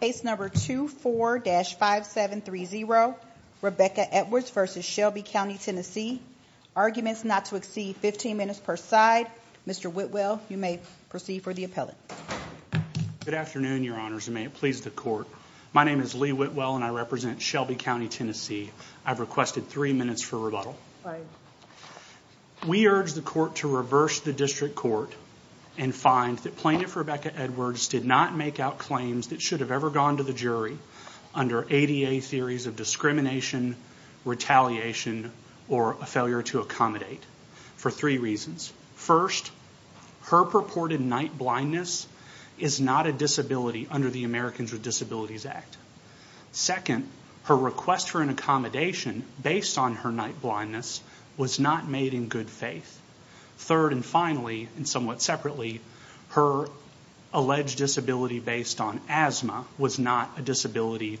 Case No. 24-5730, Rebecca Edwards v. Shelby County, TN Arguments not to exceed 15 minutes per side Mr. Whitwell, you may proceed for the appellate Good afternoon, Your Honors, and may it please the Court My name is Lee Whitwell and I represent Shelby County, TN I've requested 3 minutes for rebuttal We urge the Court to reverse the District Court and find that Plaintiff Rebecca Edwards did not make out claims that should have ever gone to the jury under ADA theories of discrimination, retaliation or a failure to accommodate for 3 reasons First, her purported night blindness is not a disability under the Americans with Disabilities Act Second, her request for an accommodation based on her night blindness was not made in good faith Third, and finally, and somewhat separately her alleged disability based on asthma was not a disability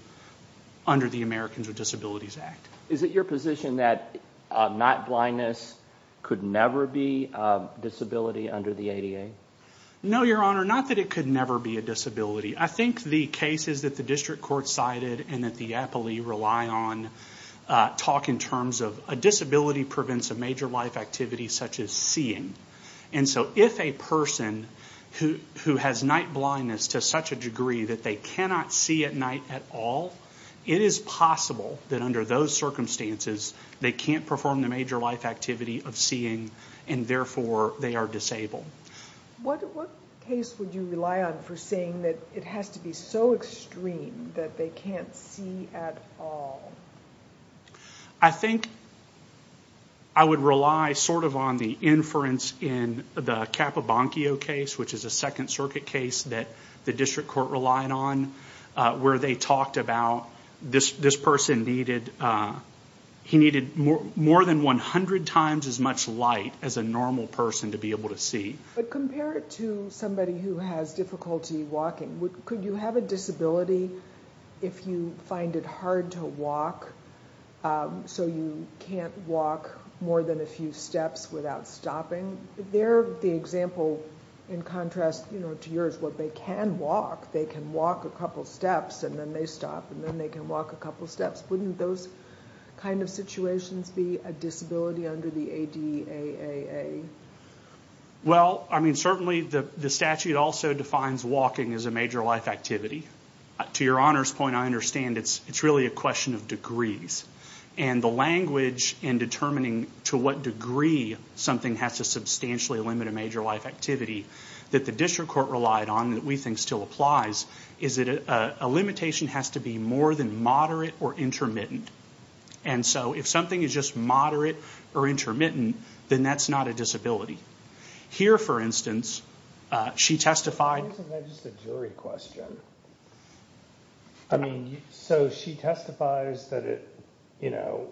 under the Americans with Disabilities Act Is it your position that night blindness could never be a disability under the ADA? No, Your Honor, not that it could never be a disability I think the cases that the District Court cited and that the appellee rely on talk in terms of a disability prevents a major life activity such as seeing and so if a person who has night blindness to such a degree that they cannot see at night at all it is possible that under those circumstances they can't perform the major life activity of seeing and therefore they are disabled What case would you rely on for saying that it has to be so extreme that they can't see at all? I think I would rely sort of on the inference in the Capabankio case which is a Second Circuit case that the District Court relied on where they talked about this person needed he needed more than 100 times as much light as a normal person to be able to see But compare it to somebody who has difficulty walking Could you have a disability if you find it hard to walk so you can't walk more than a few steps without stopping There the example in contrast to yours where they can walk they can walk a couple steps and then they stop and then they can walk a couple steps Wouldn't those kind of situations be a disability under the ADAA? Well, I mean certainly the statute also defines walking as a major life activity To your Honor's point I understand it's really a question of degrees and the language in determining to what degree something has to substantially limit a major life activity that the District Court relied on that we think still applies is that a limitation has to be more than moderate or intermittent and so if something is just moderate or intermittent then that's not a disability Here for instance she testified Why isn't that just a jury question? I mean, so she testifies that it, you know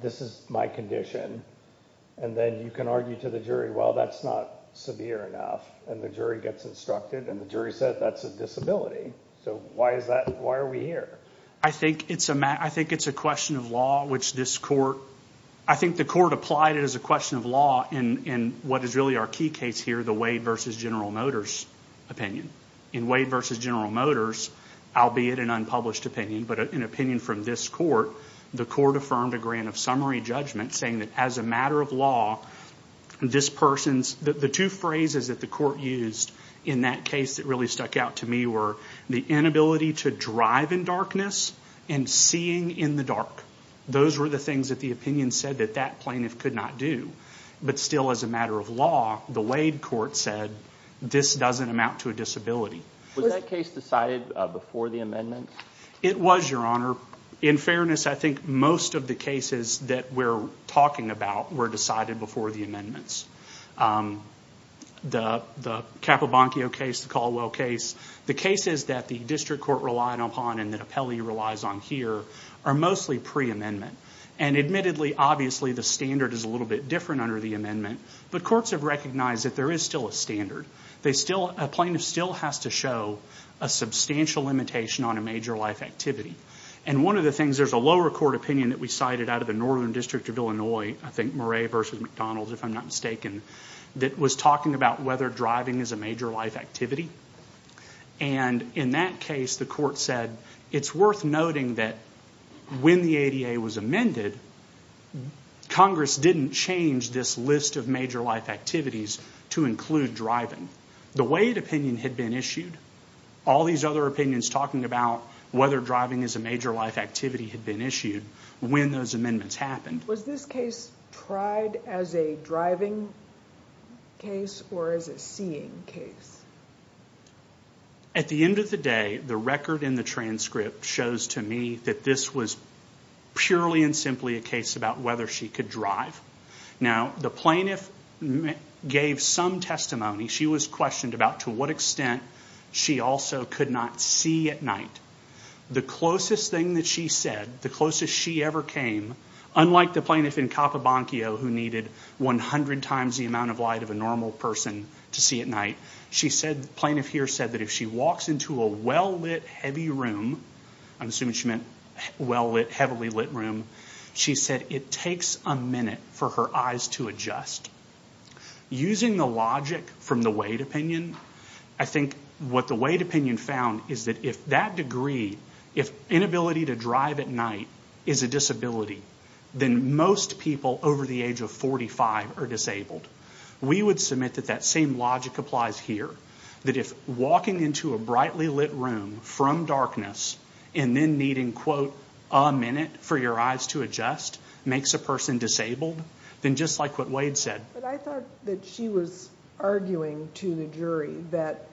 this is my condition and then you can argue to the jury well that's not severe enough and the jury gets instructed and the jury says that's a disability So why is that? Why are we here? I think it's a question of law which this Court I think the Court applied it as a question of law in what is really our key case here the Wade v. General Motors opinion In Wade v. General Motors albeit an unpublished opinion but an opinion from this Court the Court affirmed a grant of summary judgment saying that as a matter of law this person's the two phrases that the Court used in that case that really stuck out to me were the inability to drive in darkness and seeing in the dark those were the things that the opinion said that that plaintiff could not do but still as a matter of law the Wade Court said this doesn't amount to a disability Was that case decided before the amendments? It was, Your Honor In fairness, I think most of the cases that we're talking about were decided before the amendments The Capobanco case, the Caldwell case the cases that the District Court relied upon and that Apelli relies on here are mostly pre-amendment and admittedly, obviously the standard is a little bit different under the amendment but courts have recognized that there is still a standard A plaintiff still has to show a substantial limitation on a major life activity and one of the things there's a lower court opinion that we cited out of the Northern District of Illinois I think Murray v. McDonald, if I'm not mistaken that was talking about whether driving is a major life activity and in that case the Court said it's worth noting that when the ADA was amended Congress didn't change this list of major life activities to include driving The Wade opinion had been issued All these other opinions talking about whether driving is a major life activity had been issued when those amendments happened Was this case tried as a driving case or as a seeing case? At the end of the day the record in the transcript shows to me that this was purely and simply a case about whether she could drive Now, the plaintiff gave some testimony she was questioned about to what extent she also could not see at night The closest thing that she said the closest she ever came unlike the plaintiff in Capabanquio who needed 100 times the amount of light of a normal person to see at night she said, the plaintiff here said that if she walks into a well-lit heavy room I'm assuming she meant well-lit, heavily lit room she said it takes a minute for her eyes to adjust Using the logic from the Wade opinion I think what the Wade opinion found is that if that degree if inability to drive at night is a disability then most people over the age of 45 are disabled We would submit that that same logic applies here that if walking into a brightly lit room from darkness and then needing, quote a minute for your eyes to adjust makes a person disabled then just like what Wade said But I thought that she was arguing to the jury that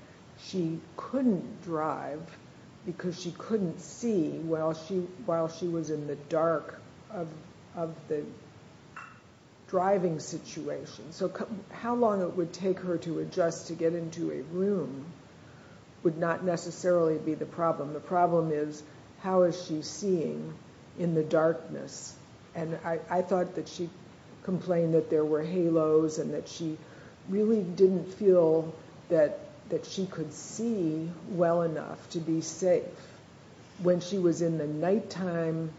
she couldn't drive because she couldn't see while she was in the dark of the driving situation So how long it would take her to adjust to get into a room would not necessarily be the problem The problem is how is she seeing in the darkness and I thought that she complained that there were halos and that she really didn't feel that she could see well enough to be safe when she was in the nighttime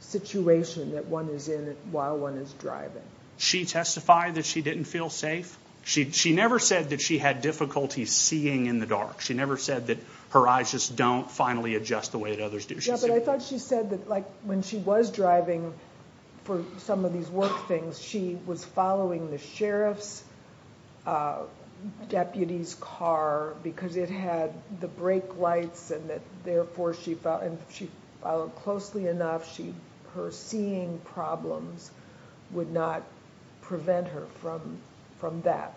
situation that one is in while one is driving She testified that she didn't feel safe She never said that she had difficulty seeing in the dark She never said that her eyes just don't finally adjust the way that others do But I thought she said that when she was driving for some of these work things she was following the sheriff's deputy's car because it had the brake lights and therefore she followed closely enough her seeing problems would not prevent her from that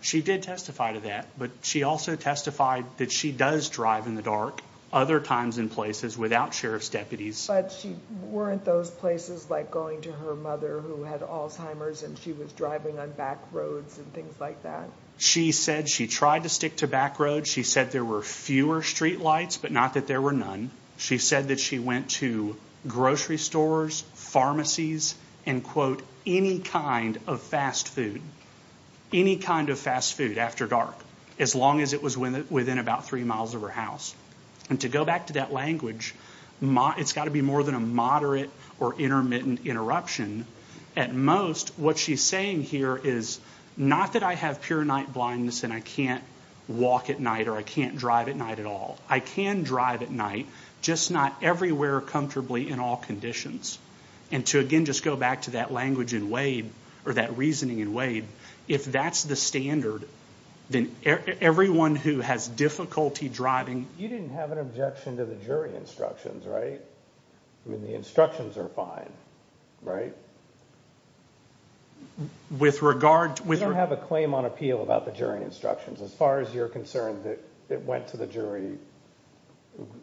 She did testify to that but she also testified that she does drive in the dark other times and places without sheriff's deputies But weren't those places like going to her mother who had Alzheimer's and she was driving on back roads and things like that She said she tried to stick to back roads She said there were fewer street lights but not that there were none She said that she went to grocery stores pharmacies and quote any kind of fast food any kind of fast food after dark as long as it was within about three miles of her house And to go back to that language it's got to be more than a moderate or intermittent interruption At most what she's saying here is not that I have pure night blindness and I can't walk at night or I can't drive at night at all I can drive at night just not everywhere comfortably in all conditions And to again just go back to that language in Wade or that reasoning in Wade if that's the standard then everyone who has difficulty driving You didn't have an objection to the jury instructions, right? I mean the instructions are fine, right? With regard to You don't have a claim on appeal about the jury instructions as far as you're concerned that it went to the jury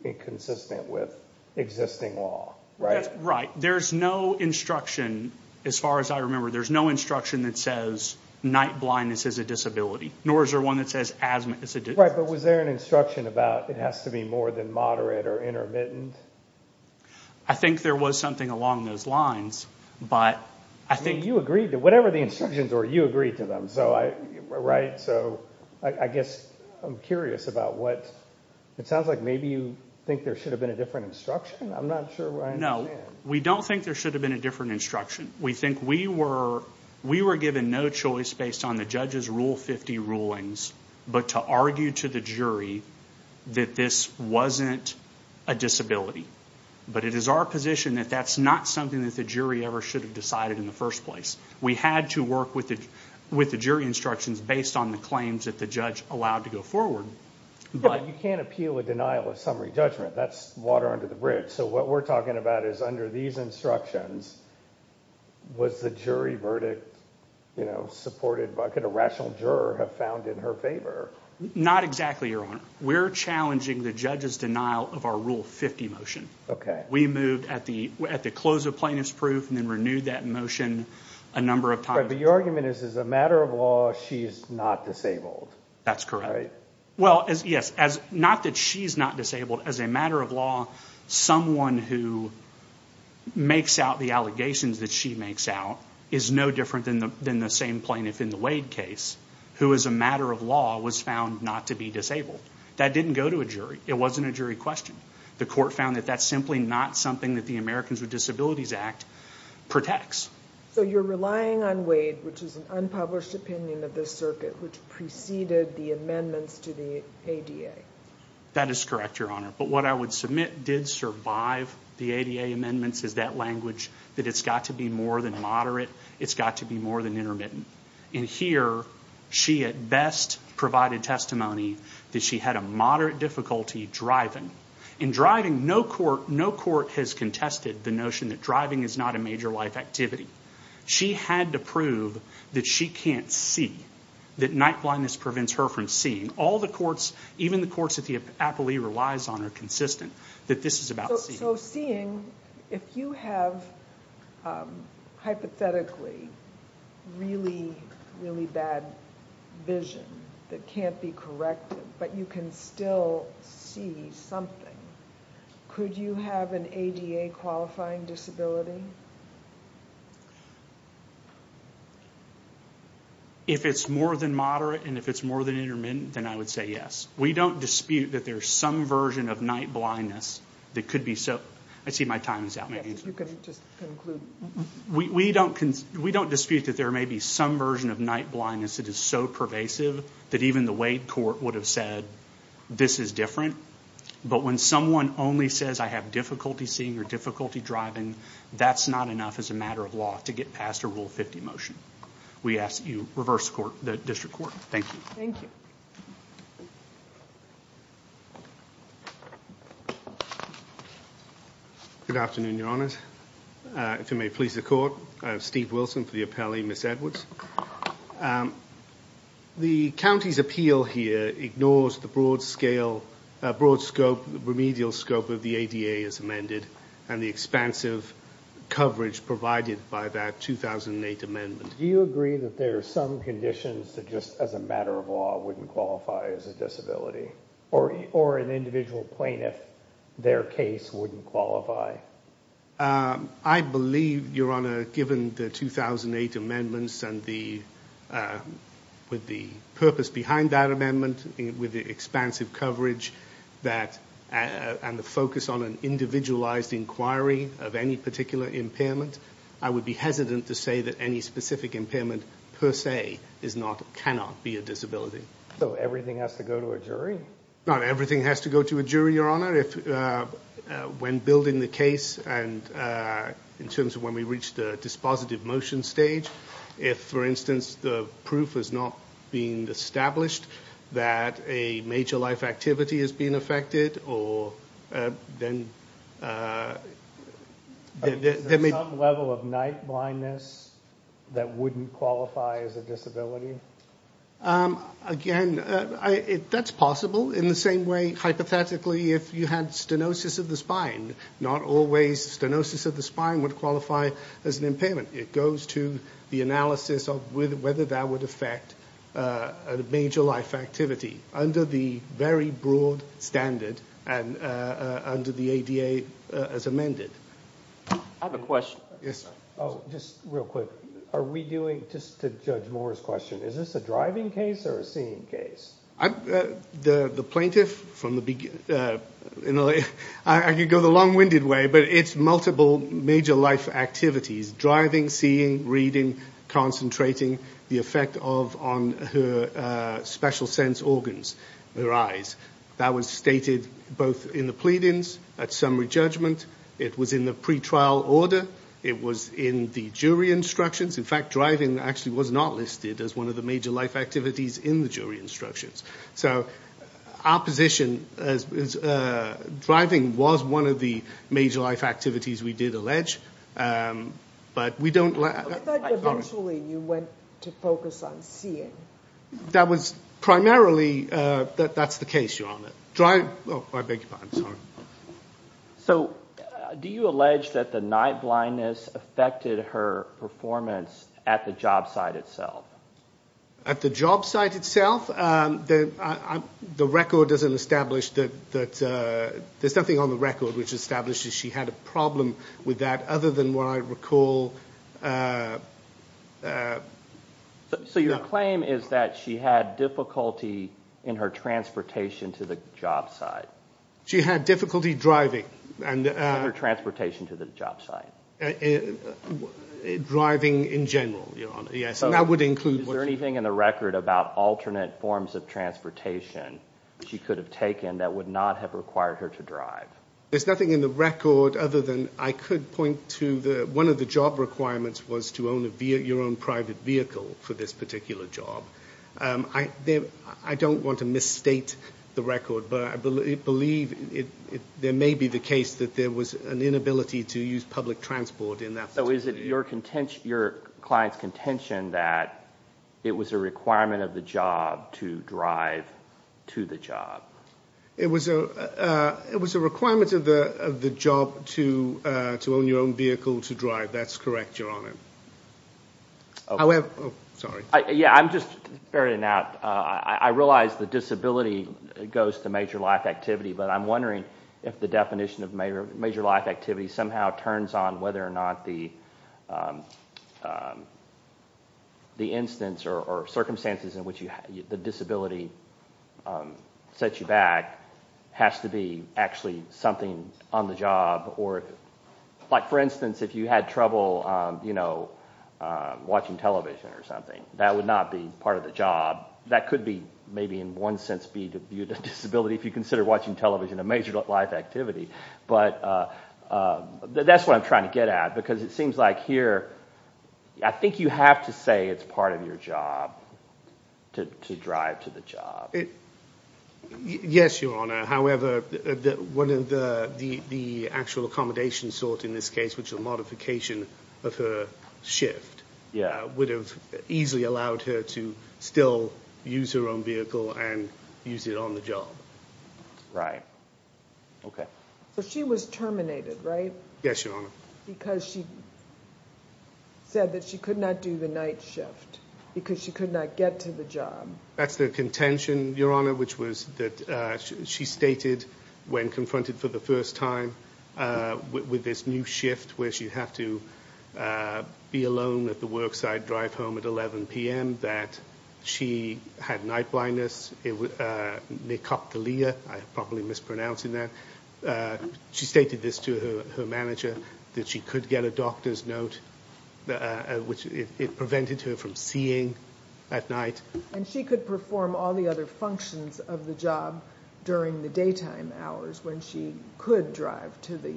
inconsistent with existing law, right? That's right There's no instruction as far as I remember there's no instruction that says night blindness is a disability nor is there one that says asthma is a disability Right, but was there an instruction about it has to be more than moderate or intermittent? I think there was something along those lines But I think You agreed to whatever the instructions were You agreed to them, right? So I guess I'm curious about what It sounds like maybe you think there should have been a different instruction? I'm not sure I understand No, we don't think there should have been a different instruction We think we were We were given no choice based on the judge's Rule 50 rulings but to argue to the jury that this wasn't a disability But it is our position that that's not something that the jury ever should have decided in the first place We had to work with the jury instructions based on the claims that the judge allowed to go forward But you can't appeal a denial of summary judgment That's water under the bridge So what we're talking about is under these instructions was the jury verdict supported What could a rational juror have found in her favor? Not exactly, Your Honor We're challenging the judge's denial of our Rule 50 motion Okay We moved at the close of plaintiff's proof and then renewed that motion a number of times But the argument is as a matter of law she's not disabled That's correct Right? Well, yes Not that she's not disabled As a matter of law someone who makes out the allegations that she makes out is no different than the same plaintiff in the Wade case who as a matter of law was found not to be disabled That didn't go to a jury It wasn't a jury question The court found that that's simply not something that the Americans with Disabilities Act protects So you're relying on Wade which is an unpublished opinion of the circuit which preceded the amendments to the ADA That is correct, Your Honor But what I would submit did survive the ADA amendments is that language that it's got to be more than moderate It's got to be more than intermittent And here she at best provided testimony that she had a moderate difficulty driving In driving, no court has contested the notion that driving is not a major life activity She had to prove that she can't see that night blindness prevents her from seeing All the courts Even the courts that the appellee relies on are consistent that this is about seeing So seeing, if you have hypothetically really, really bad vision that can't be corrected but you can still see something Could you have an ADA qualifying disability? If it's more than moderate and if it's more than intermittent then I would say yes We don't dispute that there's some version of night blindness that could be so I see my time is out We don't dispute that there may be some version of night blindness that is so pervasive that even the Wade court would have said this is different But when someone only says I have difficulty seeing or difficulty driving that's not enough as a matter of law to get past a Rule 50 motion We ask that you reverse court the district court Thank you Thank you Good afternoon, your honors If you may please the court Steve Wilson for the appellee Miss Edwards The county's appeal here ignores the broad scale broad scope remedial scope of the ADA as amended and the expansive coverage provided by that 2008 amendment Do you agree that there are some conditions that just as a matter of law wouldn't qualify as a disability or an individual plaintiff their case wouldn't qualify? I believe, your honor given the 2008 amendments and the purpose behind that amendment with the expansive coverage and the focus on an individualized inquiry of any particular impairment I would be hesitant to say that any specific impairment per se cannot be a disability So everything has to go to a jury? Not everything has to go to a jury, your honor When building the case and in terms of when we reach the dispositive motion stage if for instance the proof is not being established that a major life activity is being affected or then Is there some level of night blindness that wouldn't qualify as a disability? Again, that's possible in the same way hypothetically if you had stenosis of the spine not always stenosis of the spine would qualify as an impairment It goes to the analysis of whether that would affect a major life activity under the very broad standard and under the ADA as amended I have a question Just real quick Are we doing just to judge Moore's question Is this a driving case or a seeing case? The plaintiff I could go the long winded way but it's multiple major life activities driving, seeing, reading concentrating the effect of on her special sense organs her eyes That was stated both in the pleadings at summary judgment It was in the pre-trial order It was in the jury instructions In fact, driving actually was not listed as one of the major life activities in the jury instructions So our position driving was one of the major life activities we did allege But we don't I thought eventually you went to focus on seeing That was primarily That's the case, Your Honor Driving I beg your pardon, sorry So do you allege that the night blindness affected her performance at the job site itself? At the job site itself? The record doesn't establish that There's nothing on the record which establishes she had a problem with that other than what I recall So your claim is that she had difficulty in her transportation to the job site She had difficulty driving In her transportation to the job site Driving in general, Your Honor Yes, and that would include Is there anything in the record about alternate forms of transportation she could have taken that would not have required her to drive? There's nothing in the record other than I could point to one of the job requirements was to own your own private vehicle for this particular job I don't want to misstate the record but I believe there may be the case that there was an inability to use public transport in that situation So is it your client's contention that it was a requirement of the job to drive to the job? It was a requirement of the job to own your own vehicle to drive That's correct, Your Honor Sorry Yeah, I'm just I realize the disability goes to major life activity but I'm wondering if the definition of major life activity somehow turns on whether or not the instance or circumstances in which the disability sets you back has to be actually something on the job or like for instance if you had trouble watching television or something that would not be part of the job that could be maybe in one sense be the disability if you consider watching television a major life activity but that's what I'm trying to get at because it seems like here I think you have to say it's part of your job to drive to the job Yes, Your Honor however one of the actual accommodations sought in this case which is a modification of her shift would have easily allowed her to still use her own vehicle and use it on the job Right Okay So she was terminated, right? Yes, Your Honor Because she said that she could not do the night shift because she could not get to the job That's the contention, Your Honor which was that she stated when confronted for the first time with this new shift where she'd have to be alone at the worksite drive home at 11 p.m. that she had night blindness necroptylia I probably mispronouncing that She stated this to her manager that she could get a doctor's note which it prevented her from seeing at night And she could perform all the other functions of the job during the daytime hours when she could drive to the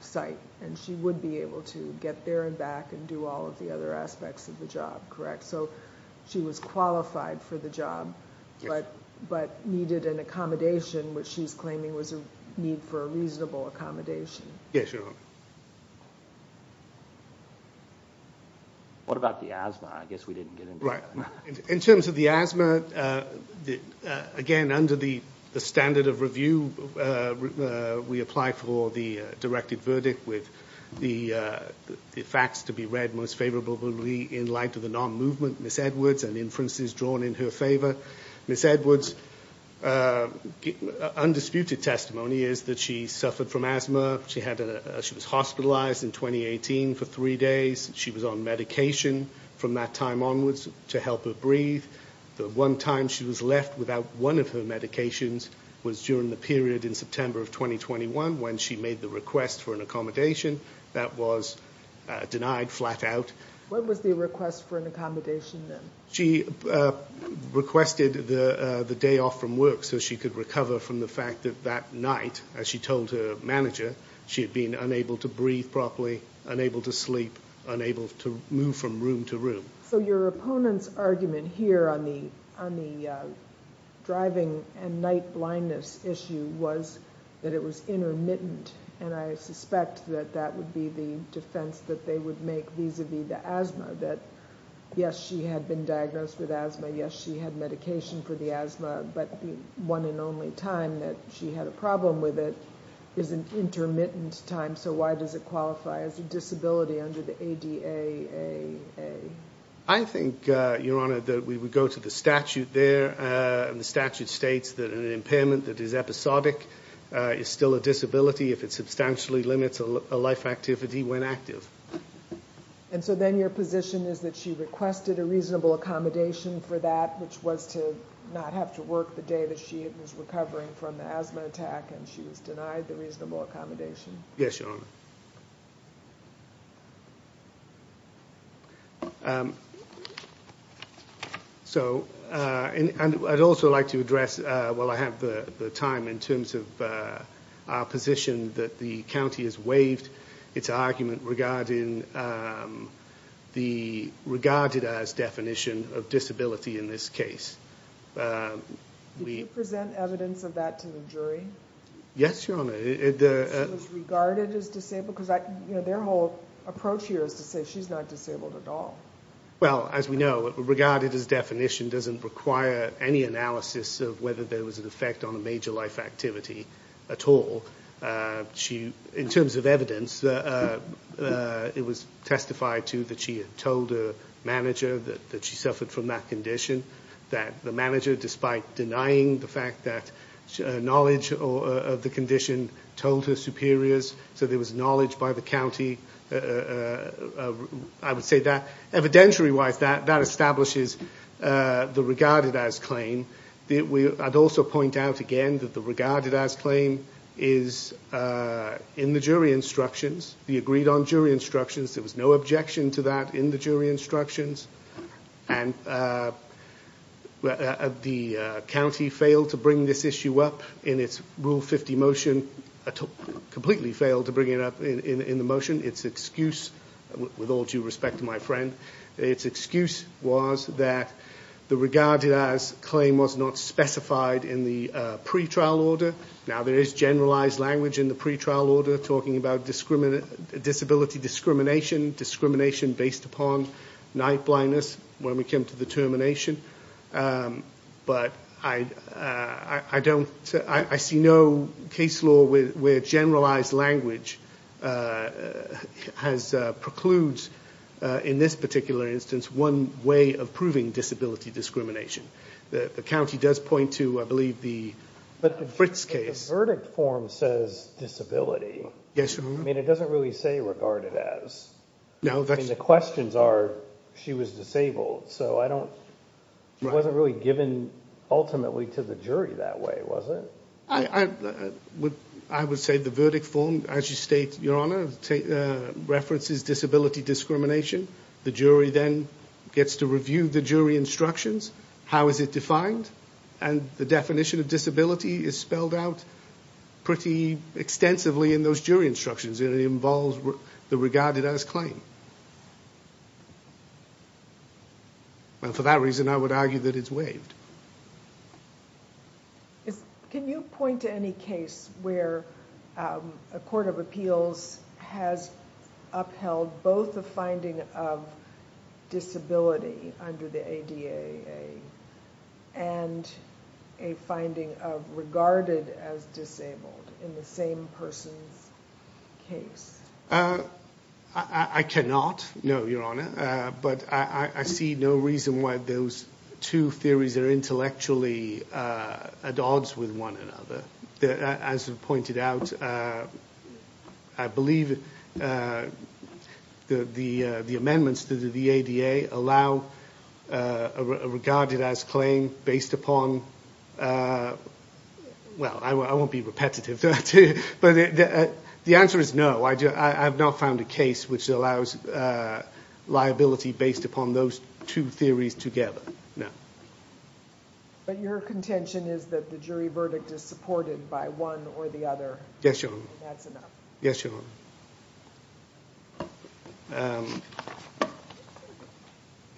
site And she would be able to get there and back and do all of the other aspects of the job Correct? So she was qualified for the job Yes But needed an accommodation which she's claiming was a need for a reasonable accommodation Yes, Your Honor What about the asthma? I guess we didn't get into that Right In terms of the asthma Again, under the standard of review we apply for the directed verdict with the facts to be read most favorably in light of the non-movement Ms. Edwards and inferences drawn in her favor Ms. Edwards Undisputed testimony is that she suffered from asthma She had She was hospitalized in 2018 for three days She was on medication from that time onwards to help her breathe The one time she was left without one of her medications was during the period in September of 2021 when she made the request for an accommodation that was denied flat out What was the request for an accommodation then? requested the day off from work so she could recover from the fact that that night as she told her manager she had been unable to breathe properly unable to sleep unable to move from room to room So your opponent's argument here on the driving and night blindness issue was that it was intermittent and I suspect that that would be the defense that they would make vis-a-vis the asthma that yes she had been diagnosed with asthma yes she had medication for the asthma but the one and only time that she had a problem with it is an intermittent time so why does it qualify as a disability under the ADA I think your honor that we would go to the statute there and the statute states that an impairment that is episodic is still a disability if it substantially limits a life activity when active and so then your position is that she requested a reasonable accommodation for that which was to not have to work the day that she was recovering from the asthma attack and she was denied the reasonable accommodation yes your honor so I'd also like to address well I have the time in terms of our position that the county has waived its argument regarding the regarded as definition of disability in this case did you present evidence of that to the jury yes your honor she was regarded as disabled because their whole approach here is to say she's not disabled at all well as we know regarded as definition doesn't require any analysis of whether there was an effect on a major life activity at all she in terms of evidence it was testified to that she had told her manager that she suffered from that condition that the manager despite denying the fact that knowledge of the condition told her superiors so there was knowledge by the I would say evidentiary wise that establishes the regarded as claim I'd also point out again that the regarded as claim is in the jury instructions the agreed on jury instructions there was no objection to that in the jury instructions and the county failed to bring this issue up in its rule 50 motion completely failed to bring it up in the motion its excuse with all due respect to my friend its excuse was that the regarded as claim was not specified in the pretrial order now there is generalized language in the pretrial order talking about disability discrimination discrimination based upon night blindness when we came to the termination but I don't I see no case law where generalized language has precludes in this particular instance one way of proving disability discrimination the county does point to I the Fritz case the verdict form says disability it doesn't really say regarded as the questions are she was disabled so I don't wasn't really given ultimately to the jury that way was it I would say the verdict form as you state your honor references disability discrimination the jury then gets to review the jury instructions how is it that well for that reason I would argue that it's can you point to any case where a court of appeals has upheld both the finding of disability under the ADA and a finding of regarded as disabled in the same way that jury and a finding of as disabled in the way that the jury has upheld both liability based upon those two theories together no but your contention is that the jury verdict is supported by one or the other yes your honor yes your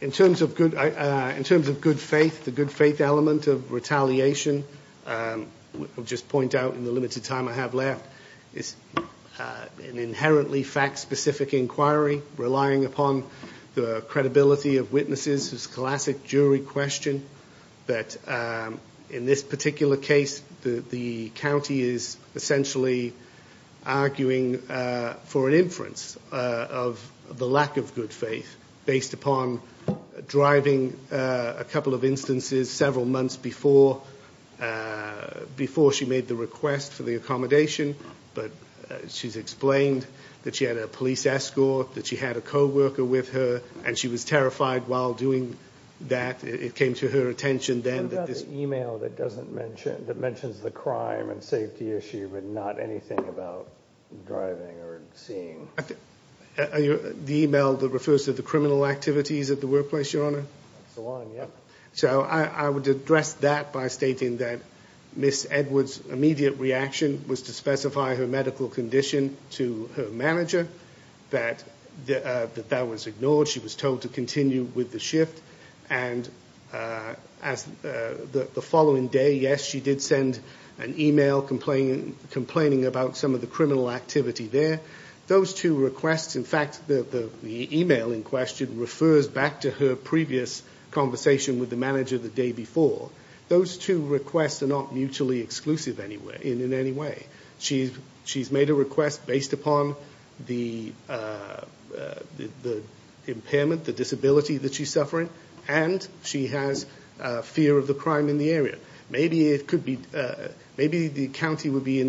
in terms of good in terms of good faith the good faith element of retaliation I'll just point out in the limited time I have left is an inherently fact specific inquiry relying upon the credibility of witnesses classic jury question that in this particular case the county is essentially arguing for an inference of the lack of good faith based upon driving a car months before she made the request for the accommodation but she's explained that she had a police escort that she had a co-worker with her and she was terrified while doing that it came to her attention then that this email that she had sent to that by stating that miss Edwards immediate reaction was to specify her medical condition to her manager that that was ignored she was told to continue with the shift and as the following day yes she did send an complaining about some of the activity there those two requests in fact the email in question refers back to her previous conversation with the manager the day before those two requests are not mutually exclusive in any maybe it could be maybe the county would be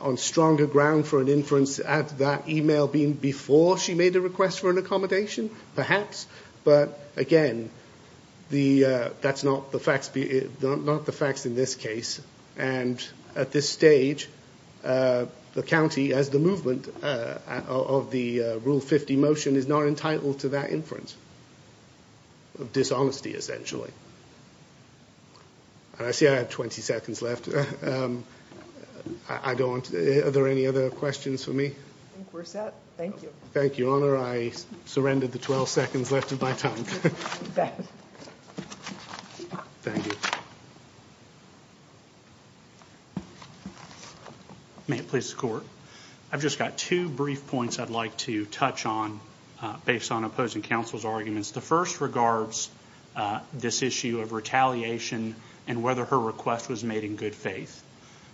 on stronger ground for an inference at that email before she made a request for an perhaps but again that's not the facts in this case and at this stage the county as the movement of the rule 50 the motion is not entitled to that inference of dishonesty essentially and I see I have 20 seconds left I don't are there any other questions for me we're set thank you thank you your honor I surrendered the 12 seconds left of my time thank you may it please the I've just got two brief points I'd like to touch on based on opposing counsel's the first regards this issue of retaliation and whether her request was made in good faith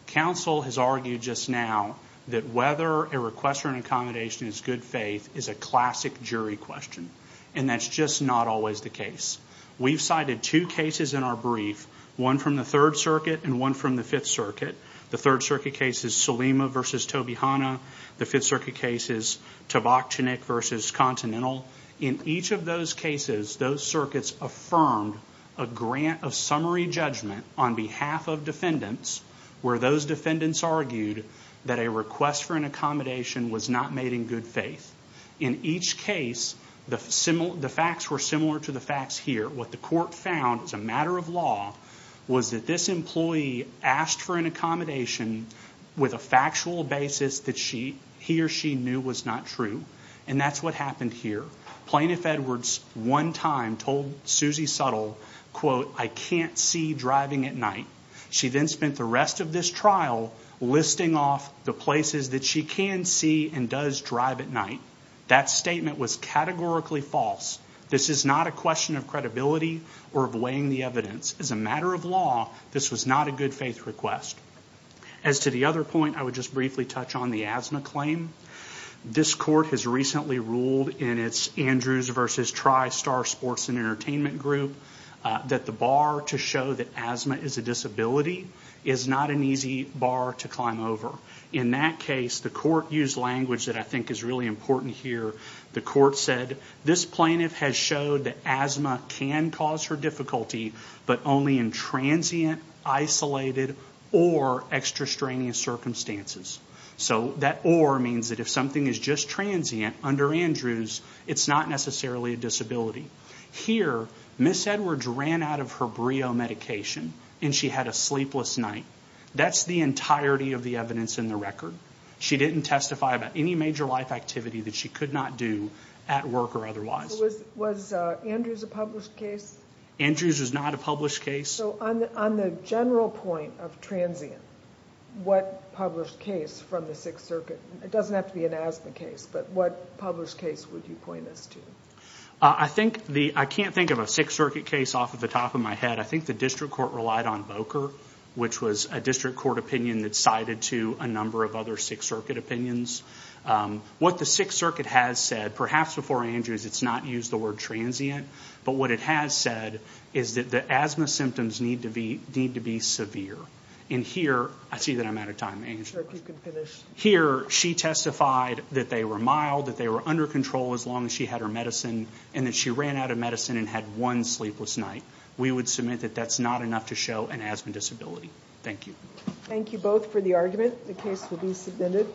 counsel has argued just now that whether a request for an accommodation is good faith is a classic jury question and that's just not always the case we've cited two cases in our brief one from the 3rd circuit and one from the 5th circuit the 3rd circuit case is Salima versus Toby Hanna the 5th circuit case is Tabak Chinik versus Continental in each of those cases those circuits affirmed a grant of summary judgment on behalf of defendants where those defendants argued that a request for an accommodation was not made in good faith in each case the facts were similar to the facts here what the court found as a matter of fact was that this employee asked for an accommodation with a factual basis that he or she knew was not true and that's what happened here Plaintiff Edwards one time told Suzy Suttle I can't see driving at night she then spent the rest of this trial listing off the places that she can see and does not drive at night that statement was categorically false this is not a question of credibility or of weighing the evidence as a matter of law this was not a good faith request as to the other point I would just briefly touch on the asthma claim this court has recently ruled in its Andrews versus TriStar Sports and I think is really important here the court said this plaintiff has showed that asthma can cause her difficulty but only in transient, or extra strenuous circumstances so that or means if something is just transient under Andrews it's not necessarily a disability here Ms. Edwards ran out of her medication and she had a sleepless night that's the entirety of the evidence in the record she didn't testify about any major life activity that she could not do at work or otherwise was Andrews a published case? Andrews was not a published case so on the general point of transient what published case from a Sixth Circuit case off the top of my head I think the district court relied on which was a district court opinion that sided to a number of other Sixth Circuit opinions what the Sixth has said perhaps before Andrews it's not used the word transient but what it has said is that the asthma disability enough to show an asthma disability thank you thank you both for the argument the case will be submitted